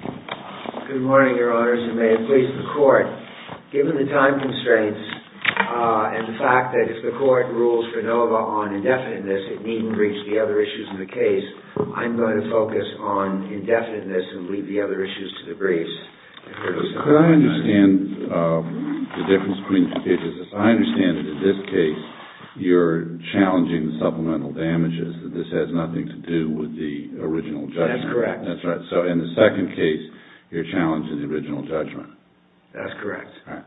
Good morning, Your Honors, and may it please the Court, given the time constraints and the fact that if the Court rules for NOVA on indefiniteness, it needn't reach the other issues in the case, I'm going to focus on indefiniteness and leave the other issues to the briefs. Could I understand the difference between the two cases? I understand that in this case you're challenging the supplemental damages, that this has nothing to do with the original judgment. That's correct. So in the second case, you're challenging the original judgment. That's correct. All right.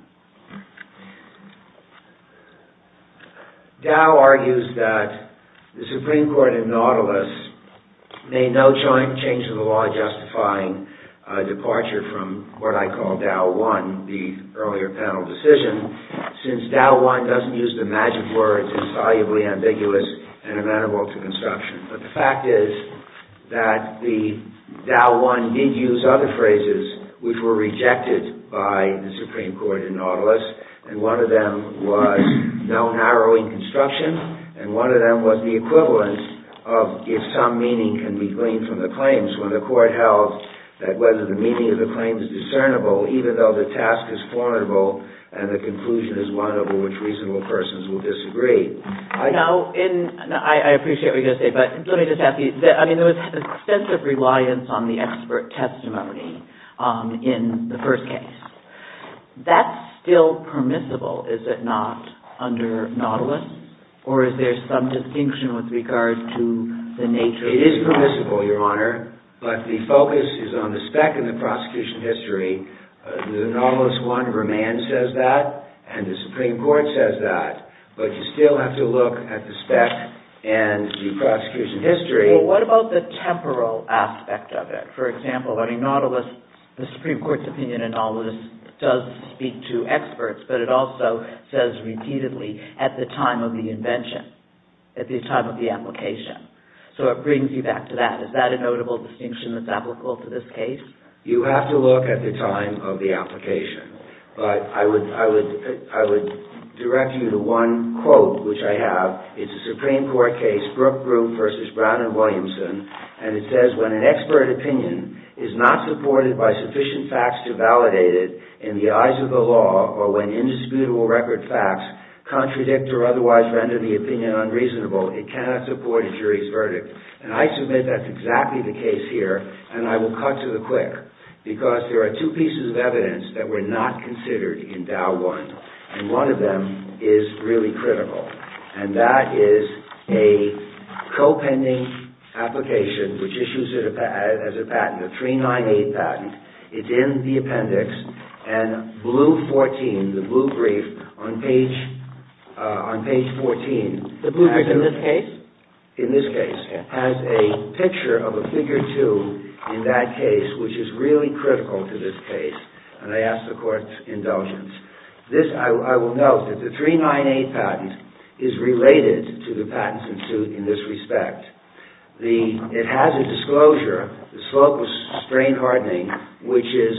Dow argues that the Supreme Court in Nautilus made no change to the law justifying a departure from what I call Dow One, the earlier panel decision, since Dow One doesn't use the magic word, insolubly ambiguous and amenable to construction. But the fact is that the Dow One did use other phrases which were rejected by the Supreme Court in Nautilus, and one of them was no narrowing construction, and one of them was the equivalent of if some meaning can be gleaned from the claims, when the Court held that whether the meaning of the claim is discernible, even though the task is formidable and the conclusion is one of which reasonable persons will disagree. I appreciate what you're going to say, but let me just ask you, there was extensive reliance on the expert testimony in the first case. That's still permissible, is it not, under Nautilus? Or is there some distinction with regard to the nature of the claim? It is permissible, Your Honor, but the focus is on the spec and the prosecution history. The Nautilus One remand says that, and the Supreme Court says that, but you still have to look at the spec and the prosecution history. Well, what about the temporal aspect of it? For example, in Nautilus, the Supreme Court's opinion in Nautilus does speak to experts, but it also says repeatedly, at the time of the invention, at the time of the application. So it brings you back to that. Is that a notable distinction that's applicable to this case? You have to look at the time of the application. But I would direct you to one quote, which I have. It's a Supreme Court case, Brookgrove v. Brown v. Williamson, and it says, when an expert opinion is not supported by sufficient facts to validate it in the eyes of the law, or when indisputable record facts contradict or otherwise render the opinion unreasonable, it cannot support a jury's verdict. And I submit that's exactly the case here, and I will cut to the quick, because there are two pieces of evidence that were not considered in Dow I, and one of them is really critical. And that is a co-pending application, which issues as a patent, a 398 patent. It's in the appendix, and blue 14, the blue brief on page 14... The blue brief in this case? In this case. Has a picture of a figure 2 in that case, which is really critical to this case. And I ask the Court's indulgence. This, I will note, that the 398 patent is related to the patents in suit in this respect. It has a disclosure, the slope of strain hardening, which is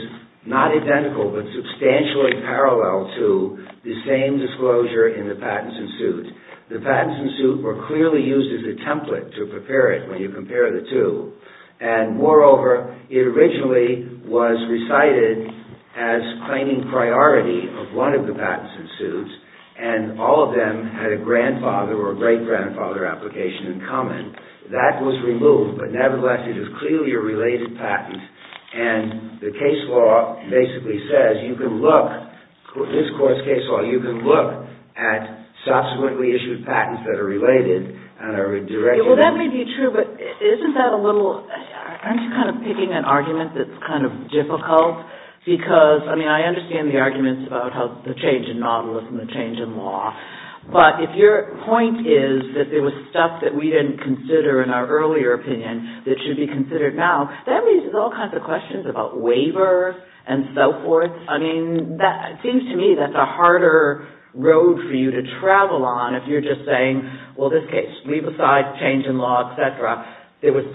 not identical, but substantially parallel to the same disclosure in the patents in suit. The patents in suit were clearly used as a template to prepare it when you compare the two. And moreover, it originally was recited as claiming priority of one of the patents in suit, and all of them had a grandfather or great-grandfather application in common. That was removed, but nevertheless, it is clearly a related patent, and the case law basically says you can look... Well, that may be true, but isn't that a little... Aren't you kind of picking an argument that's kind of difficult? Because, I mean, I understand the arguments about the change in novelists and the change in law, but if your point is that there was stuff that we didn't consider in our earlier opinion that should be considered now, that raises all kinds of questions about waivers and so forth. I mean, it seems to me that's a harder road for you to travel on if you're just saying, well, this case, leave aside change in law, etc. There was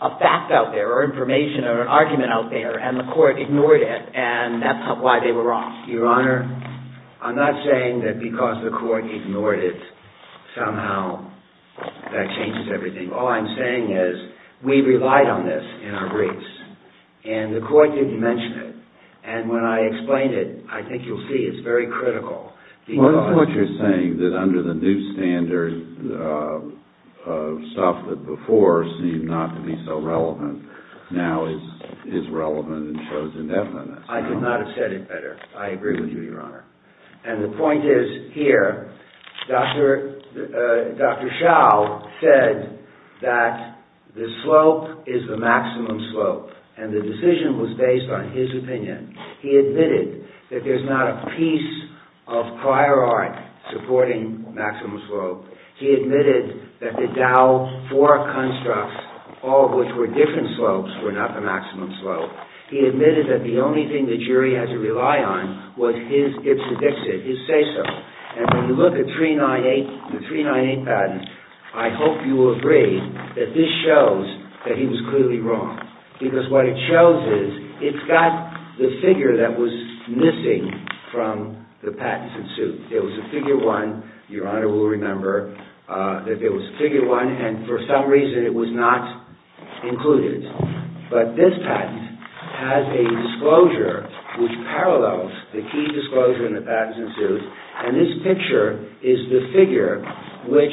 a fact out there or information or an argument out there, and the court ignored it, and that's why they were wrong. Your Honor, I'm not saying that because the court ignored it, somehow that changes everything. All I'm saying is we relied on this in our briefs, and the court didn't mention it. And when I explained it, I think you'll see it's very critical because... Well, that's what you're saying, that under the new standards of stuff that before seemed not to be so relevant, now is relevant and shows indefiniteness. I could not have said it better. I agree with you, Your Honor. And the point is, here, Dr. Schau said that the slope is the maximum slope, and the decision was based on his opinion. He admitted that there's not a piece of prior art supporting maximum slope. He admitted that the Dow 4 constructs, all of which were different slopes, were not the maximum slope. He admitted that the only thing the jury had to rely on was his ipso dixit, his say-so. And when you look at the 398 patent, I hope you will agree that this shows that he was clearly wrong. Because what it shows is, it's got the figure that was missing from the patents in suit. There was a figure one, Your Honor will remember, that there was a figure one, and for some reason it was not included. But this patent has a disclosure which parallels the key disclosure in the patents in suit, and this picture is the figure which,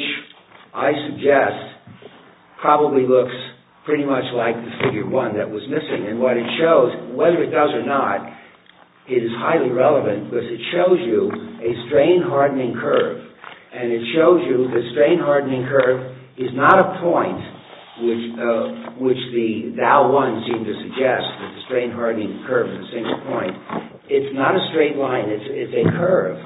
I suggest, probably looks pretty much like the figure one that was missing. And what it shows, whether it does or not, is highly relevant, because it shows you a strain-hardening curve. And it shows you the strain-hardening curve is not a point, which the Dow 1 seemed to suggest, that the strain-hardening curve is a single point. It's not a straight line, it's a curve.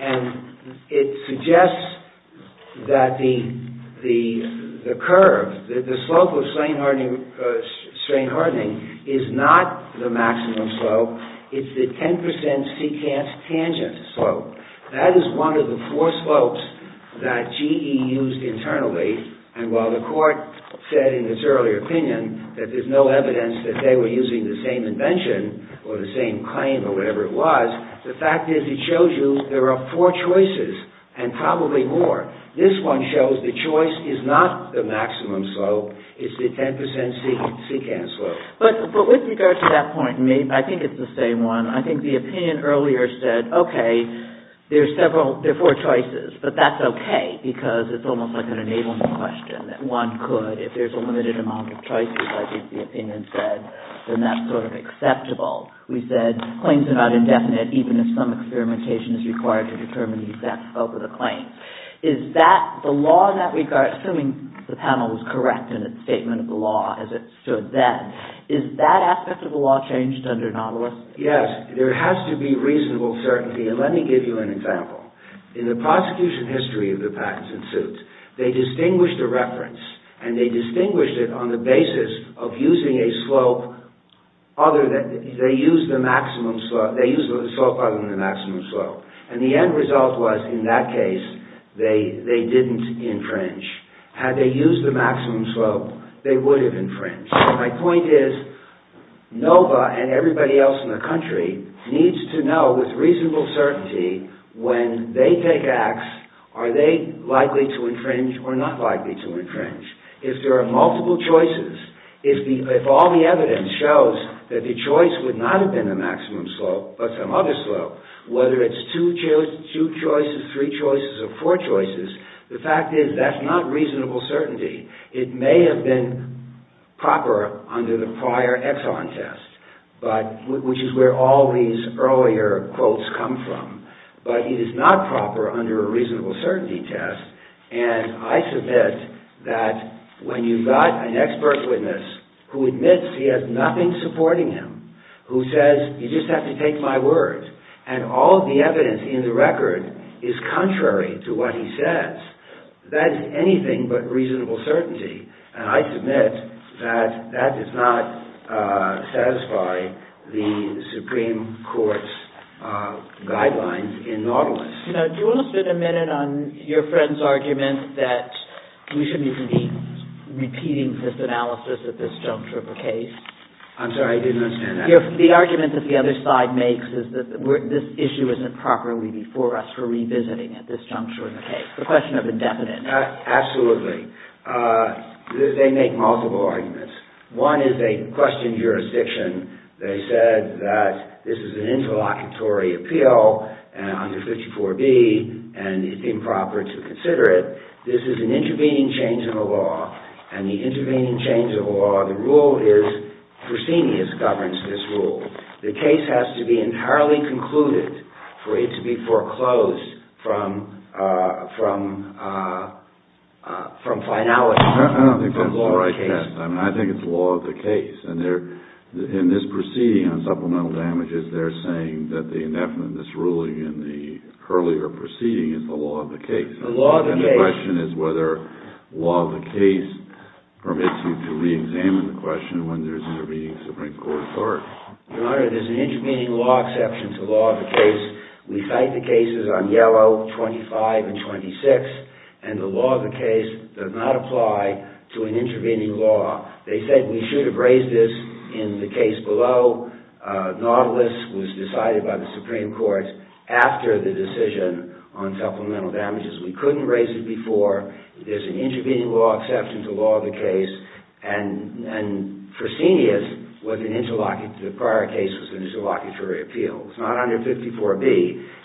And it suggests that the curve, that the slope of strain-hardening is not the maximum slope, it's the 10% secant tangent slope. That is one of the four slopes that GE used internally, and while the court said in its earlier opinion that there's no evidence that they were using the same invention, or the same claim, or whatever it was, the fact is it shows you there are four choices, and probably more. This one shows the choice is not the maximum slope, it's the 10% secant slope. But with regard to that point, I think it's the same one. I think the opinion earlier said, okay, there are four choices, but that's okay, because it's almost like an enablement question, that one could, if there's a limited amount of choices, I think the opinion said, then that's sort of acceptable. We said claims are not indefinite, even if some experimentation is required to determine the exact slope of the claim. Is that, the law in that regard, assuming the panel was correct in its statement of the law, as it should then, is that aspect of the law changed under Nautilus? Yes, there has to be reasonable certainty, and let me give you an example. In the prosecution history of the patents and suits, they distinguished a reference, and they distinguished it on the basis of using a slope other than, they used the maximum slope, they used the slope other than the maximum slope. And the end result was, in that case, they didn't infringe. Had they used the maximum slope, they would have infringed. My point is, NOVA, and everybody else in the country, needs to know with reasonable certainty, when they take acts, are they likely to infringe, or not likely to infringe. If there are multiple choices, if all the evidence shows that the choice would not have been the maximum slope, but some other slope, whether it's two choices, three choices, or four choices, the fact is, that's not reasonable certainty. It may have been proper under the prior Exxon test, which is where all these earlier quotes come from, but it is not proper under a reasonable certainty test, and I submit that when you've got an expert witness who admits he has nothing supporting him, who says, you just have to take my word, and all the evidence in the record is contrary to what he says, that is anything but reasonable certainty. And I submit that that does not satisfy the Supreme Court's guidelines in Nautilus. Now, do you want to spend a minute on your friend's argument that we shouldn't even be repeating this analysis at this juncture of a case? I'm sorry, I didn't understand that. The argument that the other side makes is that this issue isn't properly before us for revisiting at this juncture of a case. The question of indefinite. Absolutely. They make multiple arguments. One is they question jurisdiction. They said that this is an interlocutory appeal under 54b, and it's improper to consider it. This is an intervening change in the law, and the intervening change in the law, the rule is proscenius governs this rule. The case has to be entirely concluded for it to be foreclosed from finality. I don't think that's the right test. I think it's law of the case. In this proceeding on supplemental damages, they're saying that the indefinite, this ruling in the earlier proceeding, is the law of the case. The law of the case. Permits you to reexamine the question when there's an intervening Supreme Court court. Your Honor, there's an intervening law exception to law of the case. We cite the cases on yellow, 25 and 26, and the law of the case does not apply to an intervening law. They said we should have raised this in the case below. Nautilus was decided by the Supreme Court after the decision on supplemental damages. We couldn't raise it before. There's an intervening law exception to law of the case, and proscenius, the prior case, was an interlocutory appeal. It's not under 54B.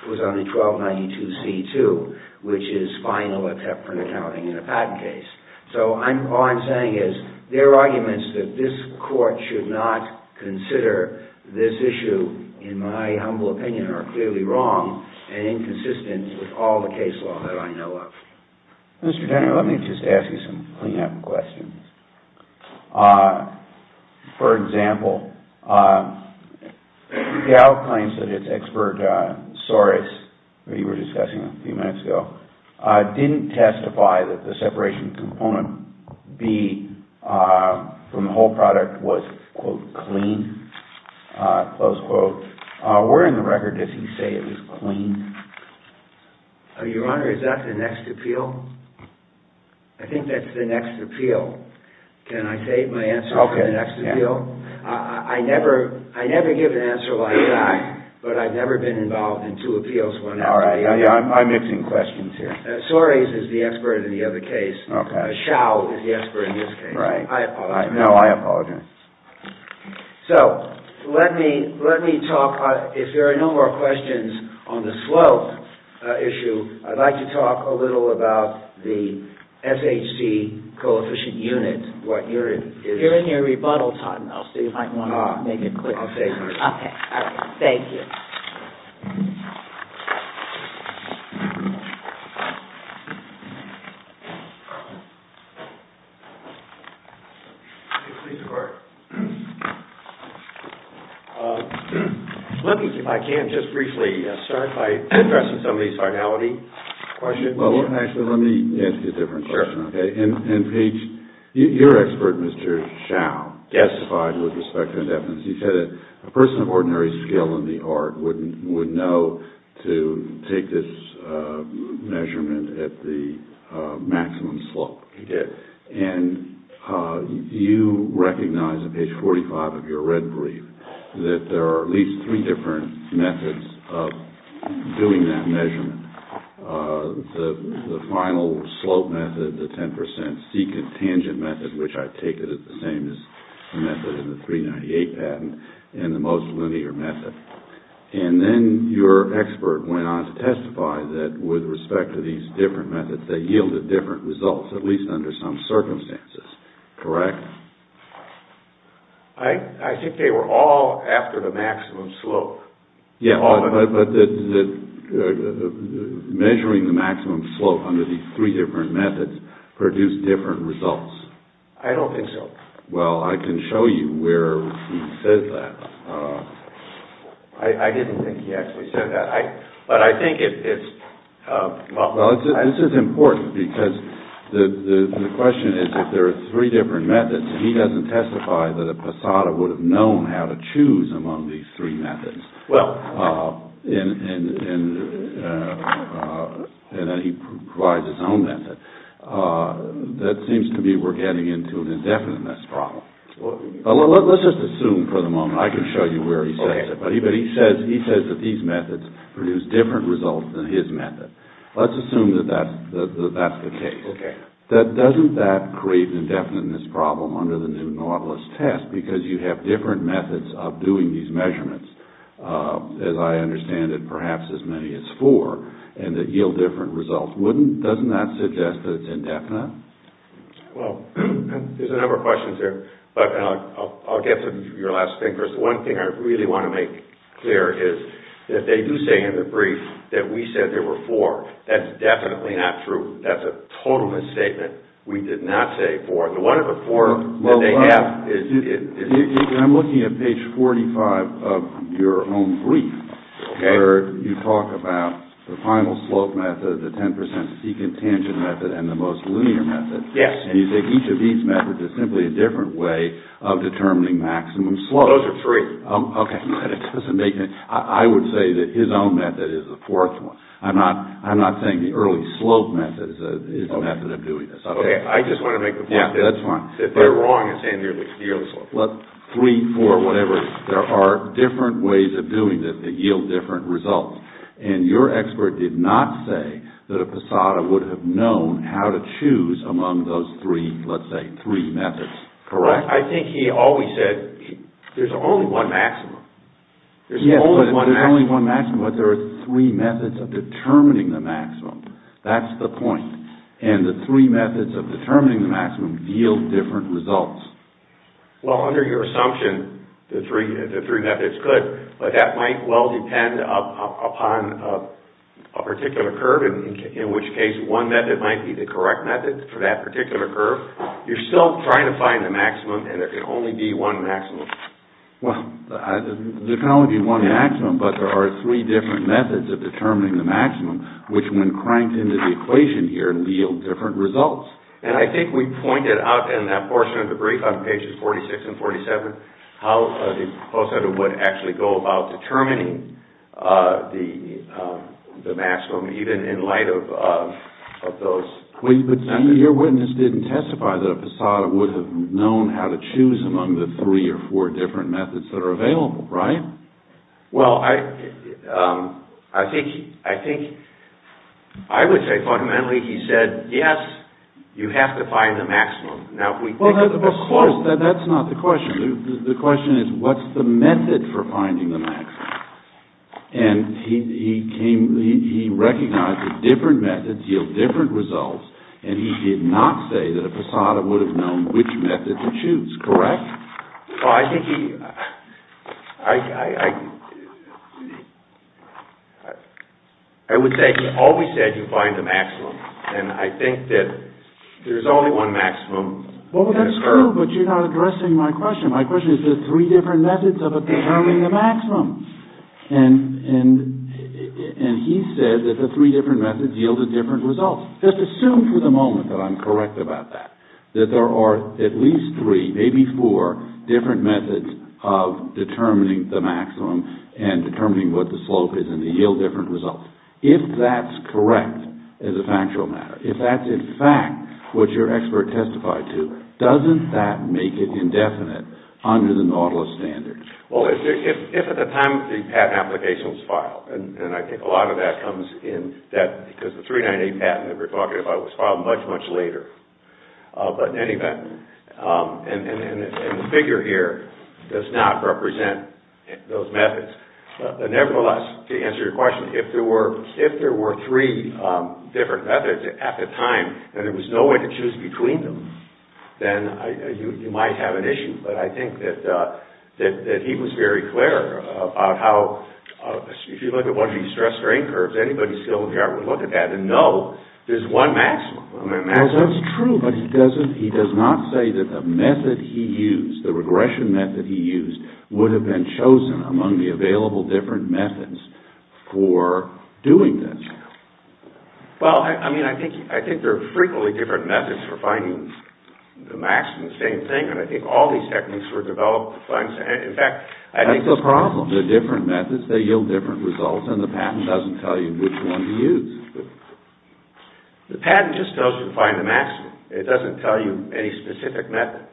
It was under 1292C2, which is final except for an accounting and a patent case. So all I'm saying is there are arguments that this court should not consider this issue, in my humble opinion, are clearly wrong and inconsistent with all the case law that I know of. Mr. Denner, let me just ask you some cleanup questions. For example, Gow claims that his expert, Soros, who you were discussing a few minutes ago, didn't testify that the separation component B from the whole product was, quote, clean, close quote. Where in the record does he say it was clean? Your Honor, is that the next appeal? I think that's the next appeal. Can I save my answer for the next appeal? I never give an answer like that, but I've never been involved in two appeals one after the other. I'm mixing questions here. Soros is the expert in the other case. Okay. Chau is the expert in this case. Right. I apologize. No, I apologize. So, let me talk. If there are no more questions on the slope issue, I'd like to talk a little about the SHC coefficient unit. You're in your rebuttal time. I'll see if I can make it quick. I'll save my time. Okay. Thank you. Thank you. Please record. Let me, if I can, just briefly start by addressing some of these finality questions. Well, actually, let me ask you a different question, okay? And, Page, your expert, Mr. Chau, testified with respect to indefinite. He said that a person of ordinary skill in the art would know to take this measurement at the maximum slope. And you recognize, on Page 45 of your red brief, that there are at least three different methods of doing that measurement. The final slope method, the 10 percent C contingent method, which I take it is the same as the method in the 398 patent, and the most linear method. And then your expert went on to testify that, with respect to these different methods, they yielded different results, at least under some circumstances. Correct? I think they were all after the maximum slope. Yeah, but measuring the maximum slope under these three different methods produced different results. I don't think so. Well, I can show you where he says that. I didn't think he actually said that. But I think it's- Well, this is important because the question is, if there are three different methods, and he doesn't testify that a passata would have known how to choose among these three methods, and that he provides his own method, that seems to me we're getting into an indefiniteness problem. Let's just assume for the moment. I can show you where he says it. But he says that these methods produce different results than his method. Let's assume that that's the case. Okay. Doesn't that create an indefiniteness problem under the new Nautilus test, because you have different methods of doing these measurements, as I understand it, perhaps as many as four, and that yield different results? Doesn't that suggest that it's indefinite? Well, there's a number of questions there, but I'll get to your last thing. One thing I really want to make clear is that they do say in the brief that we said there were four. That's definitely not true. That's a total misstatement. We did not say four. The one of the four that they have is- I'm looking at page 45 of your own brief, where you talk about the final slope method, the 10% secant tangent method, and the most linear method. Yes. And you say each of these methods is simply a different way of determining maximum slope. Those are three. Okay. But it doesn't make any- I would say that his own method is the fourth one. I'm not saying the early slope method is the method of doing this. Okay. I just want to make the point that- Yeah, that's fine. If they're wrong in saying they're near the slope. Three, four, whatever, there are different ways of doing this that yield different results. And your expert did not say that a passata would have known how to choose among those three, let's say, three methods. Correct? I think he always said there's only one maximum. Yes, but there's only one maximum. But there are three methods of determining the maximum. That's the point. And the three methods of determining the maximum yield different results. Well, under your assumption, the three methods could, but that might well depend upon a particular curve, in which case one method might be the correct method for that particular curve. You're still trying to find the maximum, and there can only be one maximum. Well, there can only be one maximum, but there are three different methods of determining the maximum, which, when cranked into the equation here, yield different results. And I think we pointed out in that portion of the brief on pages 46 and 47 how the post-editor would actually go about determining the maximum, even in light of those. But your witness didn't testify that a passata would have known how to choose among the three or four different methods that are available, right? Well, I think I would say fundamentally he said, yes, you have to find the maximum. Well, of course, that's not the question. The question is, what's the method for finding the maximum? And he recognized that different methods yield different results, and he did not say that a passata would have known which method to choose, correct? Well, I think he... I would say he always said you find the maximum, and I think that there's only one maximum in a curve. Well, that's true, but you're not addressing my question. My question is, there are three different methods of determining the maximum. And he said that the three different methods yielded different results. Just assume for the moment that I'm correct about that, that there are at least three, maybe four different methods of determining the maximum and determining what the slope is, and they yield different results. If that's correct as a factual matter, if that's in fact what your expert testified to, doesn't that make it indefinite under the Nautilus standards? And I think a lot of that comes in that because the 398 patent that we're talking about was filed much, much later. But in any event, and the figure here does not represent those methods. Nevertheless, to answer your question, if there were three different methods at the time and there was no way to choose between them, then you might have an issue. But I think that he was very clear about how, if you look at one of these stress-strain curves, anybody still in the art would look at that and know there's one maximum. That's true, but he does not say that the method he used, the regression method he used, would have been chosen among the available different methods for doing that. Well, I mean, I think there are frequently different methods for finding the maximum. I think it's the same thing, and I think all these techniques were developed to find the maximum. In fact, I think it's the same thing. That's the problem. They're different methods. They yield different results, and the patent doesn't tell you which one to use. The patent just tells you to find the maximum. It doesn't tell you any specific method.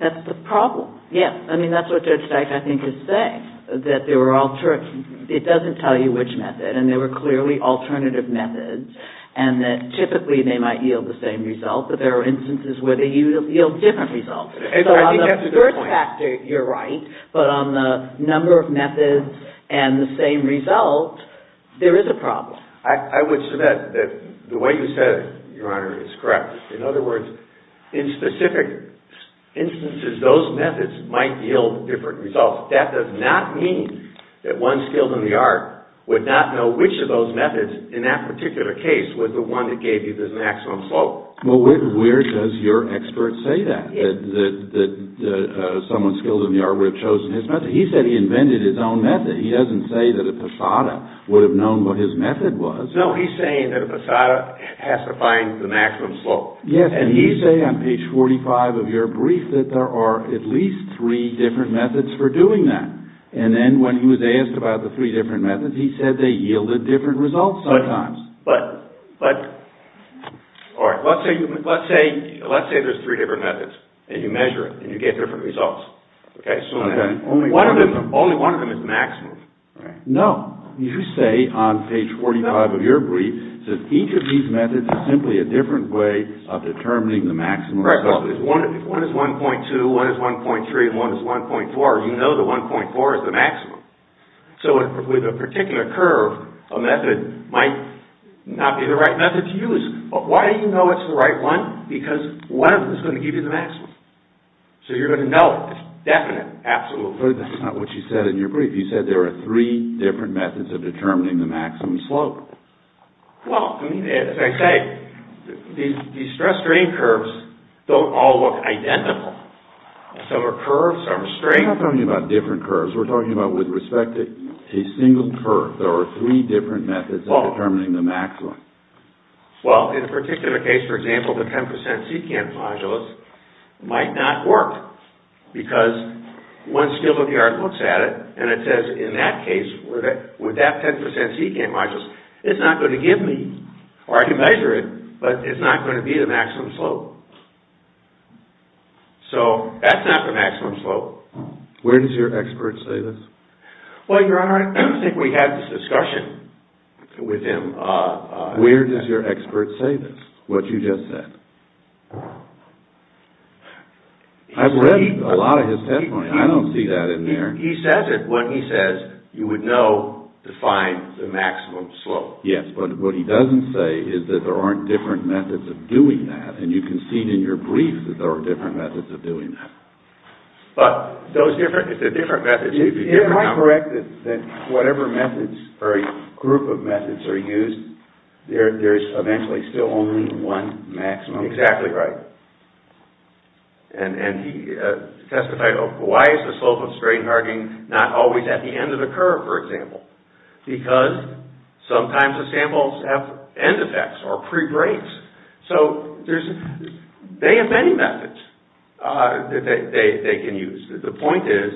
That's the problem, yes. I mean, that's what Judge Dyke, I think, is saying, that it doesn't tell you which method. And there were clearly alternative methods, and that typically they might yield the same result, but there are instances where they yield different results. So on the first factor, you're right, but on the number of methods and the same result, there is a problem. I would submit that the way you said it, Your Honor, is correct. In other words, in specific instances, those methods might yield different results. That does not mean that one skilled in the art would not know which of those methods, in that particular case, was the one that gave you the maximum slope. Well, where does your expert say that, that someone skilled in the art would have chosen his method? He said he invented his own method. He doesn't say that a passata would have known what his method was. No, he's saying that a passata has to find the maximum slope. Yes, and he's saying on page 45 of your brief that there are at least three different methods for doing that. And then when he was asked about the three different methods, he said they yielded different results sometimes. All right, let's say there's three different methods, and you measure it, and you get different results. Only one of them is maximum. No, you say on page 45 of your brief that each of these methods is simply a different way of determining the maximum. Correct. One is 1.2, one is 1.3, and one is 1.4. You know that 1.4 is the maximum. So with a particular curve, a method might not be the right method to use. But why do you know it's the right one? Because one of them is going to give you the maximum. So you're going to know it. It's definite, absolute. But that's not what you said in your brief. You said there are three different methods of determining the maximum slope. Well, I mean, as I say, these stress-strain curves don't all look identical. Some are curved, some are straight. We're not talking about different curves. We're talking about, with respect to a single curve, there are three different methods of determining the maximum. Well, in a particular case, for example, the 10% secant modulus might not work because one skill of the art looks at it, and it says, in that case, with that 10% secant modulus, it's not going to give me, or I can measure it, but it's not going to be the maximum slope. So that's not the maximum slope. Where does your expert say this? Well, Your Honor, I don't think we had this discussion with him. Where does your expert say this, what you just said? I've read a lot of his testimony. I don't see that in there. He says it when he says you would know to find the maximum slope. Yes, but what he doesn't say is that there aren't different methods of doing that, and you can see it in your brief that there are different methods of doing that. But those are different methods. Am I correct that whatever methods or a group of methods are used, there's eventually still only one maximum? Exactly right. And he testified, why is the slope of strain hardening not always at the end of the curve, for example? Because sometimes the samples have end effects or pre-breaks. So they have many methods that they can use. The point is,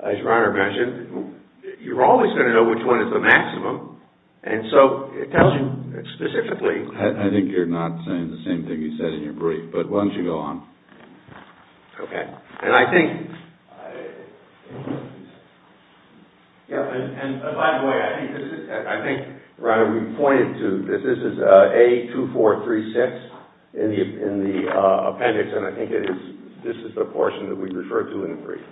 as Your Honor mentioned, you're always going to know which one is the maximum, and so it tells you specifically. I think you're not saying the same thing you said in your brief, but why don't you go on. Okay. And I think, by the way, I think, Your Honor, we pointed to this. This is A2436 in the appendix, and I think this is the portion that we refer to in the brief.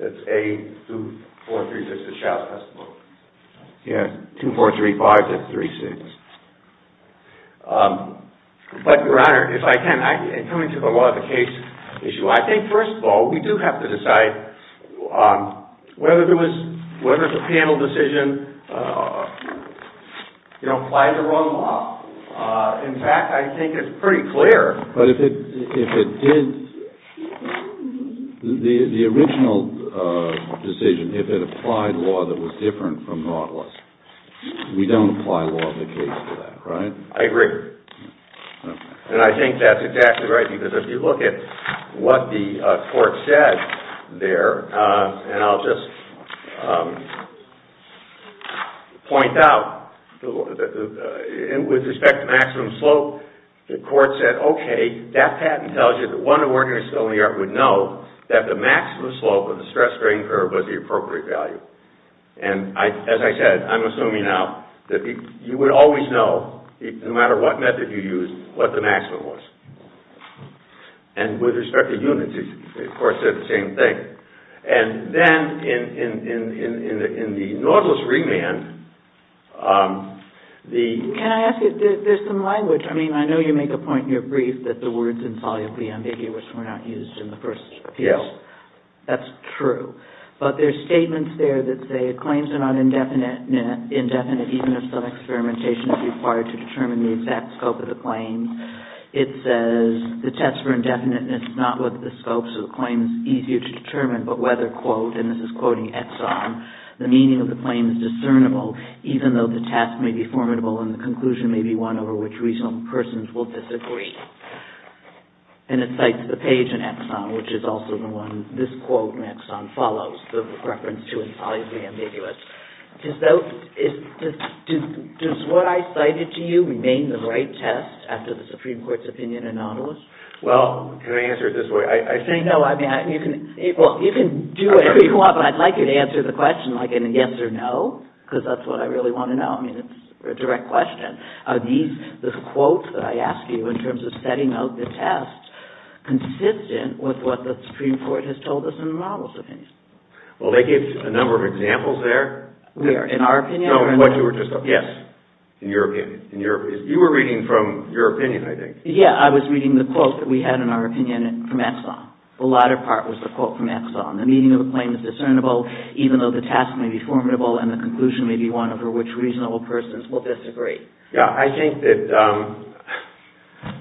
That's A2436, the Shouse test book. Yes, 2435 to 36. But, Your Honor, if I can, coming to the law of the case issue, I think, first of all, we do have to decide whether the panel decision applied the wrong law. In fact, I think it's pretty clear. But if it did, the original decision, if it applied law that was different from Nautilus, we don't apply law of the case for that, right? I agree. And I think that's exactly right, because if you look at what the court said there, and I'll just point out, with respect to maximum slope, the court said, okay, that patent tells you that one who worked in a facility in New York would know that the maximum slope of the stress-strain curve was the appropriate value. And, as I said, I'm assuming now that you would always know, no matter what method you used, what the maximum was. And with respect to units, the court said the same thing. And then, in the Nautilus remand, the... Can I ask you, there's some language. I mean, I know you make a point in your brief that the words insolubly ambiguous were not used in the first appeal. Yes. That's true. But there's statements there that say claims are not indefinite, even if some experimentation is required to determine the exact scope of the claim. It says, the test for indefiniteness is not what the scope of the claim is easier to determine, but whether, quote, and this is quoting Exxon, the meaning of the claim is discernible, even though the test may be formidable and the conclusion may be one over which reasonable persons will disagree. And it cites the page in Exxon, which is also the one, this quote in Exxon, follows the reference to insolubly ambiguous. Does what I cited to you remain the right test after the Supreme Court's opinion in Nautilus? Well, can I answer it this way? No, I mean, you can do whatever you want, but I'd like you to answer the question like in a yes or no, because that's what I really want to know. I mean, it's a direct question. Are these quotes that I asked you in terms of setting out the test consistent with what the Supreme Court has told us in Nautilus' opinion? Well, they gave a number of examples there. Where, in our opinion? No, in what you were just, yes, in your opinion. You were reading from your opinion, I think. Yeah, I was reading the quote that we had in our opinion from Exxon. The latter part was the quote from Exxon. The meaning of the claim is discernible, even though the test may be formidable and the conclusion may be one over which reasonable persons will disagree. Yeah, I think that,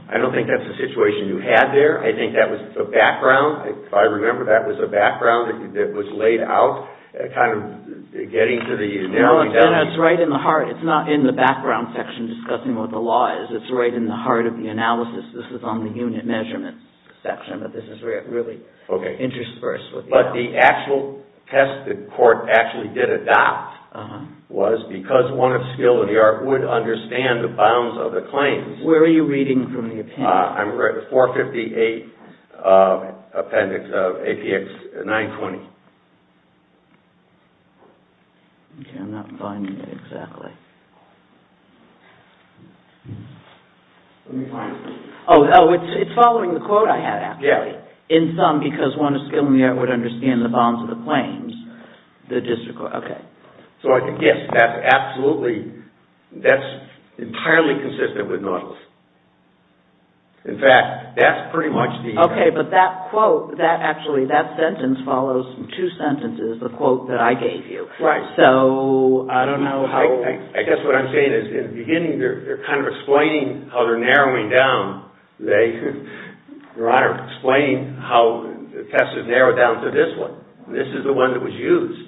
I don't think that's a situation you had there. I think that was the background. If I remember, that was a background that was laid out, kind of getting to the narrowing down. No, it's right in the heart. It's not in the background section discussing what the law is. It's right in the heart of the analysis. This is on the unit measurement section, but this is really interspersed with the actual. The actual test the court actually did adopt was because one of skill in the art would understand the bounds of the claims. Where are you reading from the appendix? I'm reading 458 Appendix of APX 920. I'm not finding it exactly. Oh, it's following the quote I had, actually. Yeah. In sum, because one of skill in the art would understand the bounds of the claims, the district court. Okay. Yes, that's absolutely, that's entirely consistent with Nautilus. In fact, that's pretty much the. Okay, but that quote, that actually, that sentence follows two sentences, the quote that I gave you. Right. So, I don't know how. I guess what I'm saying is in the beginning, they're kind of explaining how they're narrowing down. They're explaining how the test is narrowed down to this one. This is the one that was used,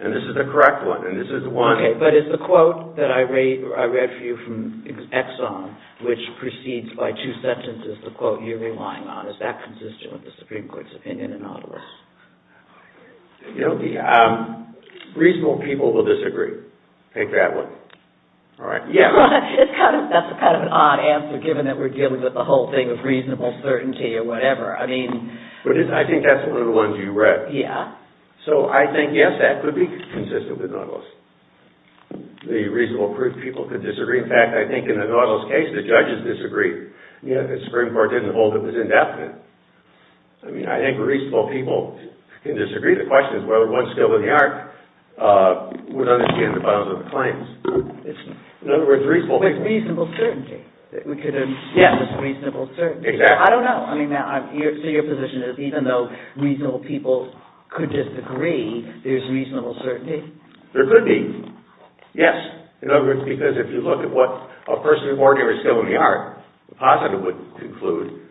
and this is the correct one, and this is the one. Okay, but it's the quote that I read for you from Exxon, which proceeds by two sentences, the quote you're relying on. Is that consistent with the Supreme Court's opinion in Nautilus? Reasonable people will disagree. Take that one. All right. That's kind of an odd answer, given that we're dealing with the whole thing of reasonable certainty or whatever. I mean. I think that's one of the ones you read. Yeah. So, I think, yes, that could be consistent with Nautilus. The reasonable people could disagree. In fact, I think in the Nautilus case, the judges disagreed. The Supreme Court didn't hold it as indefinite. I mean, I think reasonable people can disagree. The question is whether one still in the arc would understand the bounds of the claims. In other words, reasonable people. With reasonable certainty. We could have said there's reasonable certainty. Exactly. I don't know. I mean, so your position is even though reasonable people could disagree, there's reasonable certainty. There could be. Yes. In other words, because if you look at what a person who's already still in the arc, the positive would conclude,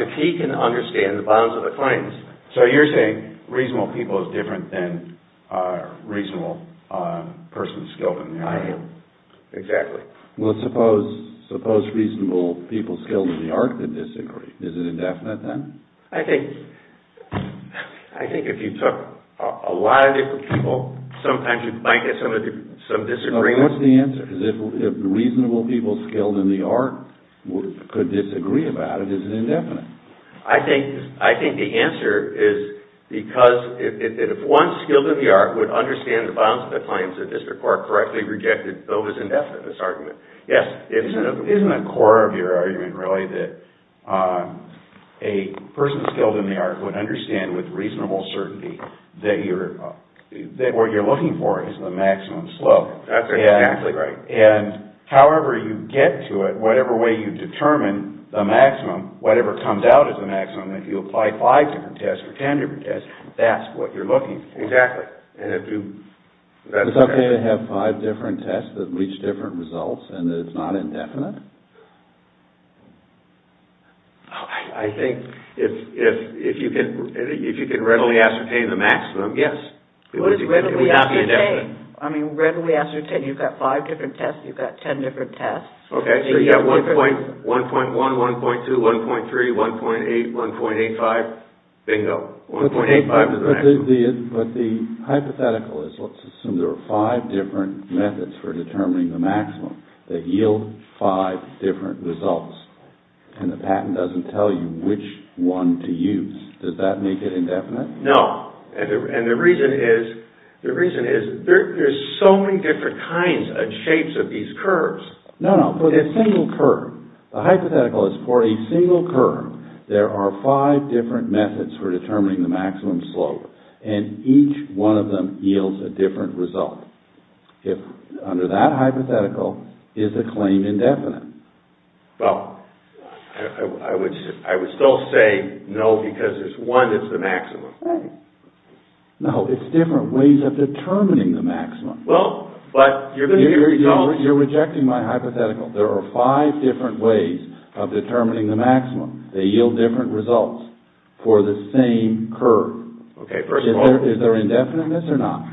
if he can understand the bounds of the claims. So, you're saying reasonable people is different than reasonable persons still in the arc. I am. Exactly. Well, suppose reasonable people still in the arc could disagree. Is it indefinite then? I think if you took a lot of different people, sometimes you might get some disagreements. What's the answer? If reasonable people still in the arc could disagree about it, is it indefinite? I think the answer is because if one skilled in the arc would understand the bounds of the claims, the district court correctly rejected Bova's indefinite argument. Yes. Isn't the core of your argument really that a person skilled in the arc would understand with reasonable certainty that what you're looking for is the maximum slope? That's exactly right. However you get to it, whatever way you determine the maximum, whatever comes out as the maximum, if you apply five different tests or ten different tests, that's what you're looking for. Exactly. Is it okay to have five different tests that reach different results and that it's not indefinite? I think if you can readily ascertain the maximum, yes. I mean readily ascertain. You've got five different tests. You've got ten different tests. Okay, so you've got 1.1, 1.2, 1.3, 1.8, 1.85. Bingo. But the hypothetical is let's assume there are five different methods for determining the maximum that yield five different results and the patent doesn't tell you which one to use. Does that make it indefinite? No. And the reason is there's so many different kinds and shapes of these curves. No, no, for a single curve. The hypothetical is for a single curve, there are five different methods for determining the maximum slope and each one of them yields a different result. If under that hypothetical, is the claim indefinite? Well, I would still say no because there's one that's the maximum. No, it's different ways of determining the maximum. Well, but you're going to get results... You're rejecting my hypothetical. There are five different ways of determining the maximum. They yield different results for the same curve. Okay, first of all... Is there indefiniteness or not?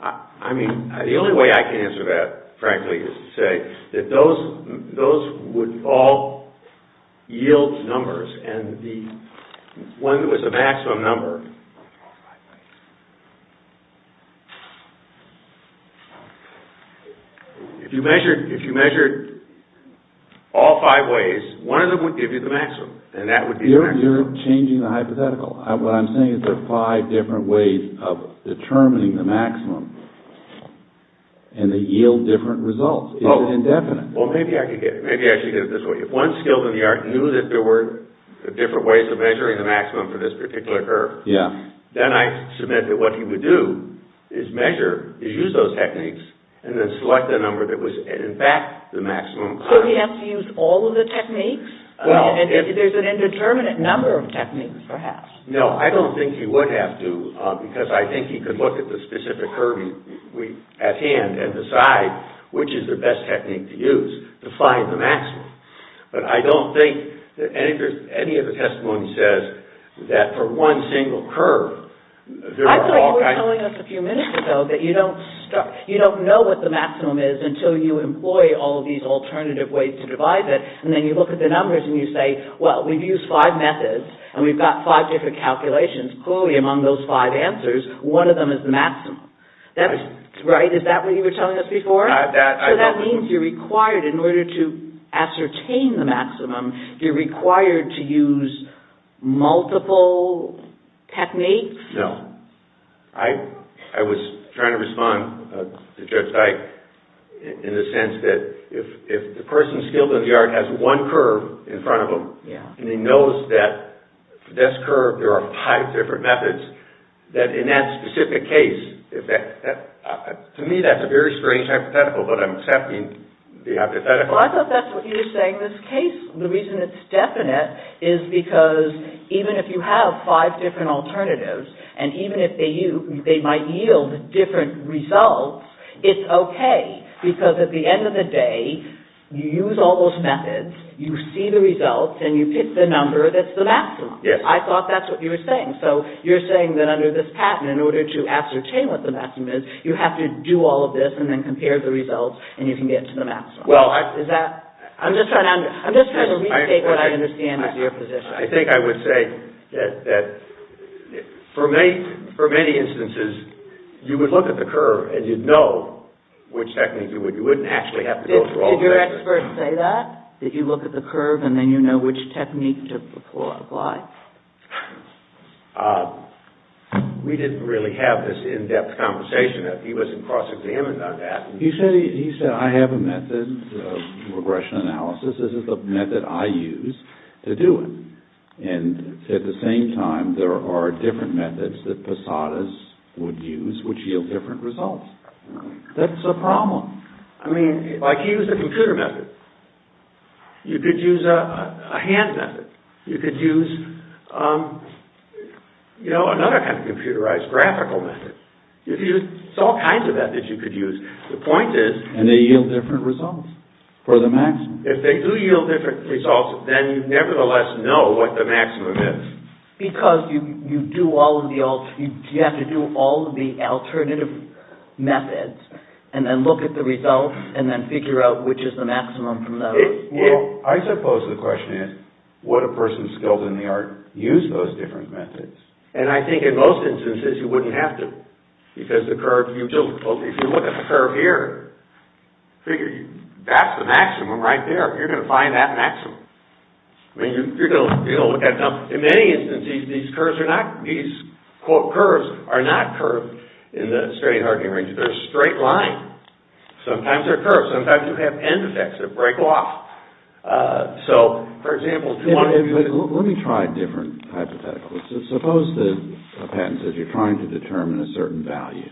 I mean, the only way I can answer that, frankly, is to say that those would all yield numbers. And the one that was the maximum number... If you measured all five ways, one of them would give you the maximum and that would be the maximum. You're changing the hypothetical. What I'm saying is there are five different ways of determining the maximum and they yield different results. Is it indefinite? Well, maybe I can get it. Maybe I can get it this way. If one skilled in the art knew that there were different ways of measuring the maximum for this particular curve, then I submit that what he would do is use those techniques and then select the number that was, in fact, the maximum. So he has to use all of the techniques? There's an indeterminate number of techniques, perhaps. No, I don't think he would have to because I think he could look at the specific curve at hand and decide which is the best technique to use to find the maximum. But I don't think that any of the testimony says that for one single curve... I thought you were telling us a few minutes ago that you don't know what the maximum is until you employ all of these alternative ways to divide it and then you look at the numbers and you say, well, we've used five methods and we've got five different calculations. Clearly among those five answers, one of them is the maximum. Is that what you were telling us before? So that means you're required, in order to ascertain the maximum, you're required to use multiple techniques? No. I was trying to respond to Judge Dyke in the sense that if the person skilled in the art has one curve in front of them and he knows that for this curve there are five different methods, that in that specific case, to me that's a very strange hypothetical, but I'm accepting the hypothetical. Well, I thought that's what you were saying in this case. The reason it's definite is because even if you have five different alternatives and even if they might yield different results, it's okay because at the end of the day, you use all those methods, you see the results, and you pick the number that's the maximum. Yes. I thought that's what you were saying. So you're saying that under this patent, in order to ascertain what the maximum is, you have to do all of this and then compare the results and you can get to the maximum. Well, I... I'm just trying to retake what I understand is your position. I think I would say that for many instances, you would look at the curve and you'd know which technique you would. You wouldn't actually have to go through all the methods. Did your expert say that? Did you look at the curve and then you know which technique to apply? We didn't really have this in-depth conversation. He wasn't cross-examined on that. He said, I have a method of regression analysis. This is the method I use to do it. At the same time, there are different methods that Posadas would use, which yield different results. That's a problem. I mean, like he used a computer method. You could use a hand method. You could use, you know, another kind of computerized graphical method. There's all kinds of methods you could use. The point is... And they yield different results for the maximum. If they do yield different results, then you nevertheless know what the maximum is. Because you have to do all of the alternative methods and then look at the results and then figure out which is the maximum from those. Well, I suppose the question is, would a person skilled in the art use those different methods? And I think in most instances, you wouldn't have to. Because the curve... If you look at the curve here, that's the maximum right there. You're going to find that maximum. I mean, you're going to look at... In many instances, these curves are not... These, quote, curves are not curved in the steady-hardening range. They're a straight line. Sometimes they're curved. Sometimes you have end effects that break off. So, for example... Let me try a different hypothetical. Suppose a patent says you're trying to determine a certain value.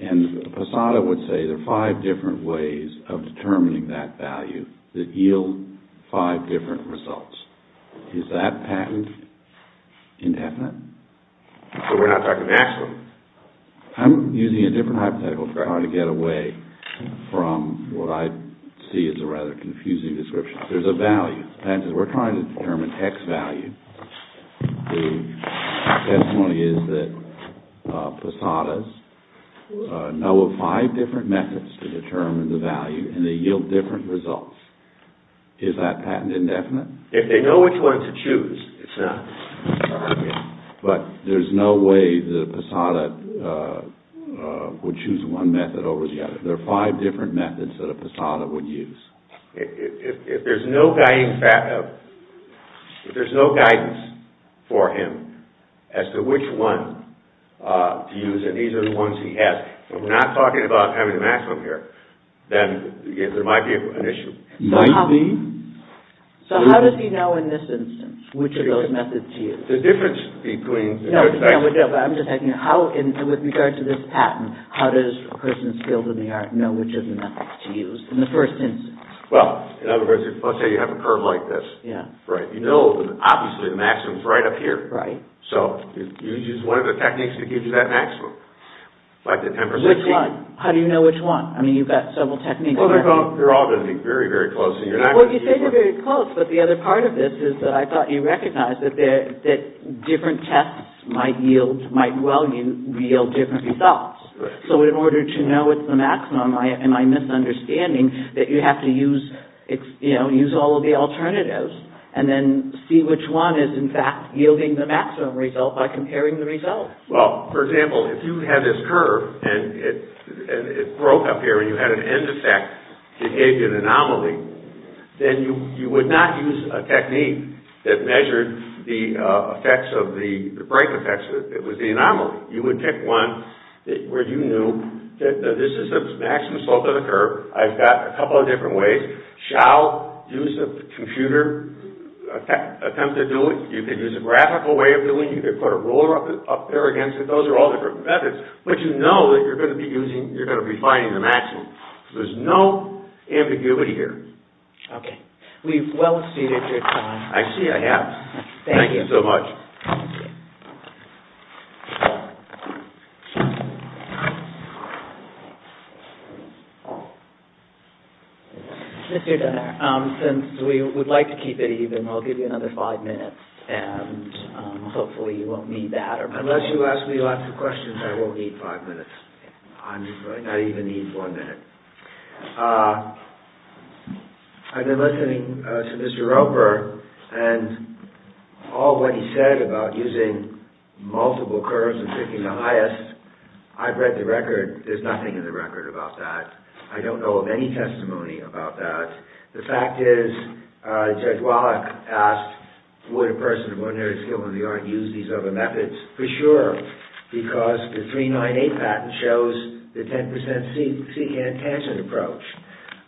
And Posada would say there are five different ways of determining that value that yield five different results. Is that patent indefinite? But we're not talking maximum. I'm using a different hypothetical to try to get away from what I see as a rather confusing description. There's a value. The patent says we're trying to determine X value. The testimony is that Posadas know of five different methods to determine the value, and they yield different results. Is that patent indefinite? If they know which one to choose, it's not. But there's no way that a Posada would choose one method over the other. There are five different methods that a Posada would use. If there's no guidance for him as to which one to use, and these are the ones he has, we're not talking about having a maximum here, then there might be an issue. Might be. So, how does he know in this instance which of those methods to use? The difference between... No, I'm just asking you, with regard to this patent, how does a person skilled in the art know which of the methods to use in the first instance? Well, in other words, let's say you have a curve like this. You know, obviously, the maximum is right up here. So, you use one of the techniques to give you that maximum. Which one? How do you know which one? I mean, you've got several techniques. They're all going to be very, very close. Well, you say they're very close, but the other part of this is that I thought you recognized that different tests might yield different results. Right. So, in order to know what's the maximum, am I misunderstanding that you have to use all of the alternatives and then see which one is, in fact, yielding the maximum result by comparing the results? Well, for example, if you had this curve and it broke up here and you had an end-effect behavior anomaly, then you would not use a technique that measured the effects of the break effects. It was the anomaly. You would pick one where you knew that this is the maximum slope of the curve. I've got a couple of different ways. Shall use a computer attempt to do it. You could use a graphical way of doing it. You could put a ruler up there against it. Those are all different methods, but you know that you're going to be using, you're going to be finding the maximum. There's no ambiguity here. Okay. We've well exceeded your time. I see I have. Thank you. Thank you so much. Since we would like to keep it even, I'll give you another five minutes, and hopefully you won't need that. Unless you ask me lots of questions, I won't need five minutes. I don't even need one minute. I've been listening to Mr. Roper, and all that he said about using multiple curves and picking the highest, I've read the record. There's nothing in the record about that. I don't know of any testimony about that. The fact is, Judge Wallach asked, would a person of ordinary skill in the art use these other methods? For sure. Why? Because the 398 patent shows the 10% secant tangent approach.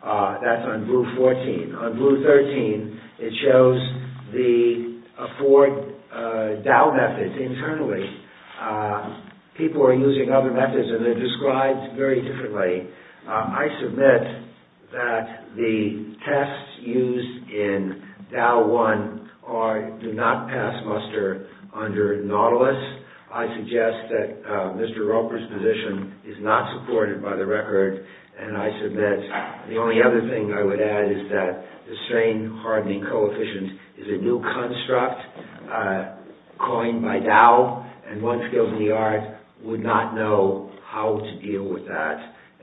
That's on blue 14. On blue 13, it shows the four Dow methods internally. People are using other methods, and they're described very differently. I submit that the tests used in Dow 1 do not pass muster under Nautilus. I suggest that Mr. Roper's position is not supported by the record, and I submit the only other thing I would add is that the strain hardening coefficient is a new construct coined by Dow, and one skilled in the art would not know how to deal with that,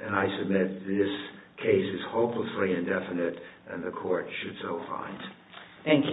and I submit this case is hopelessly indefinite, and the court should so find. Thank you.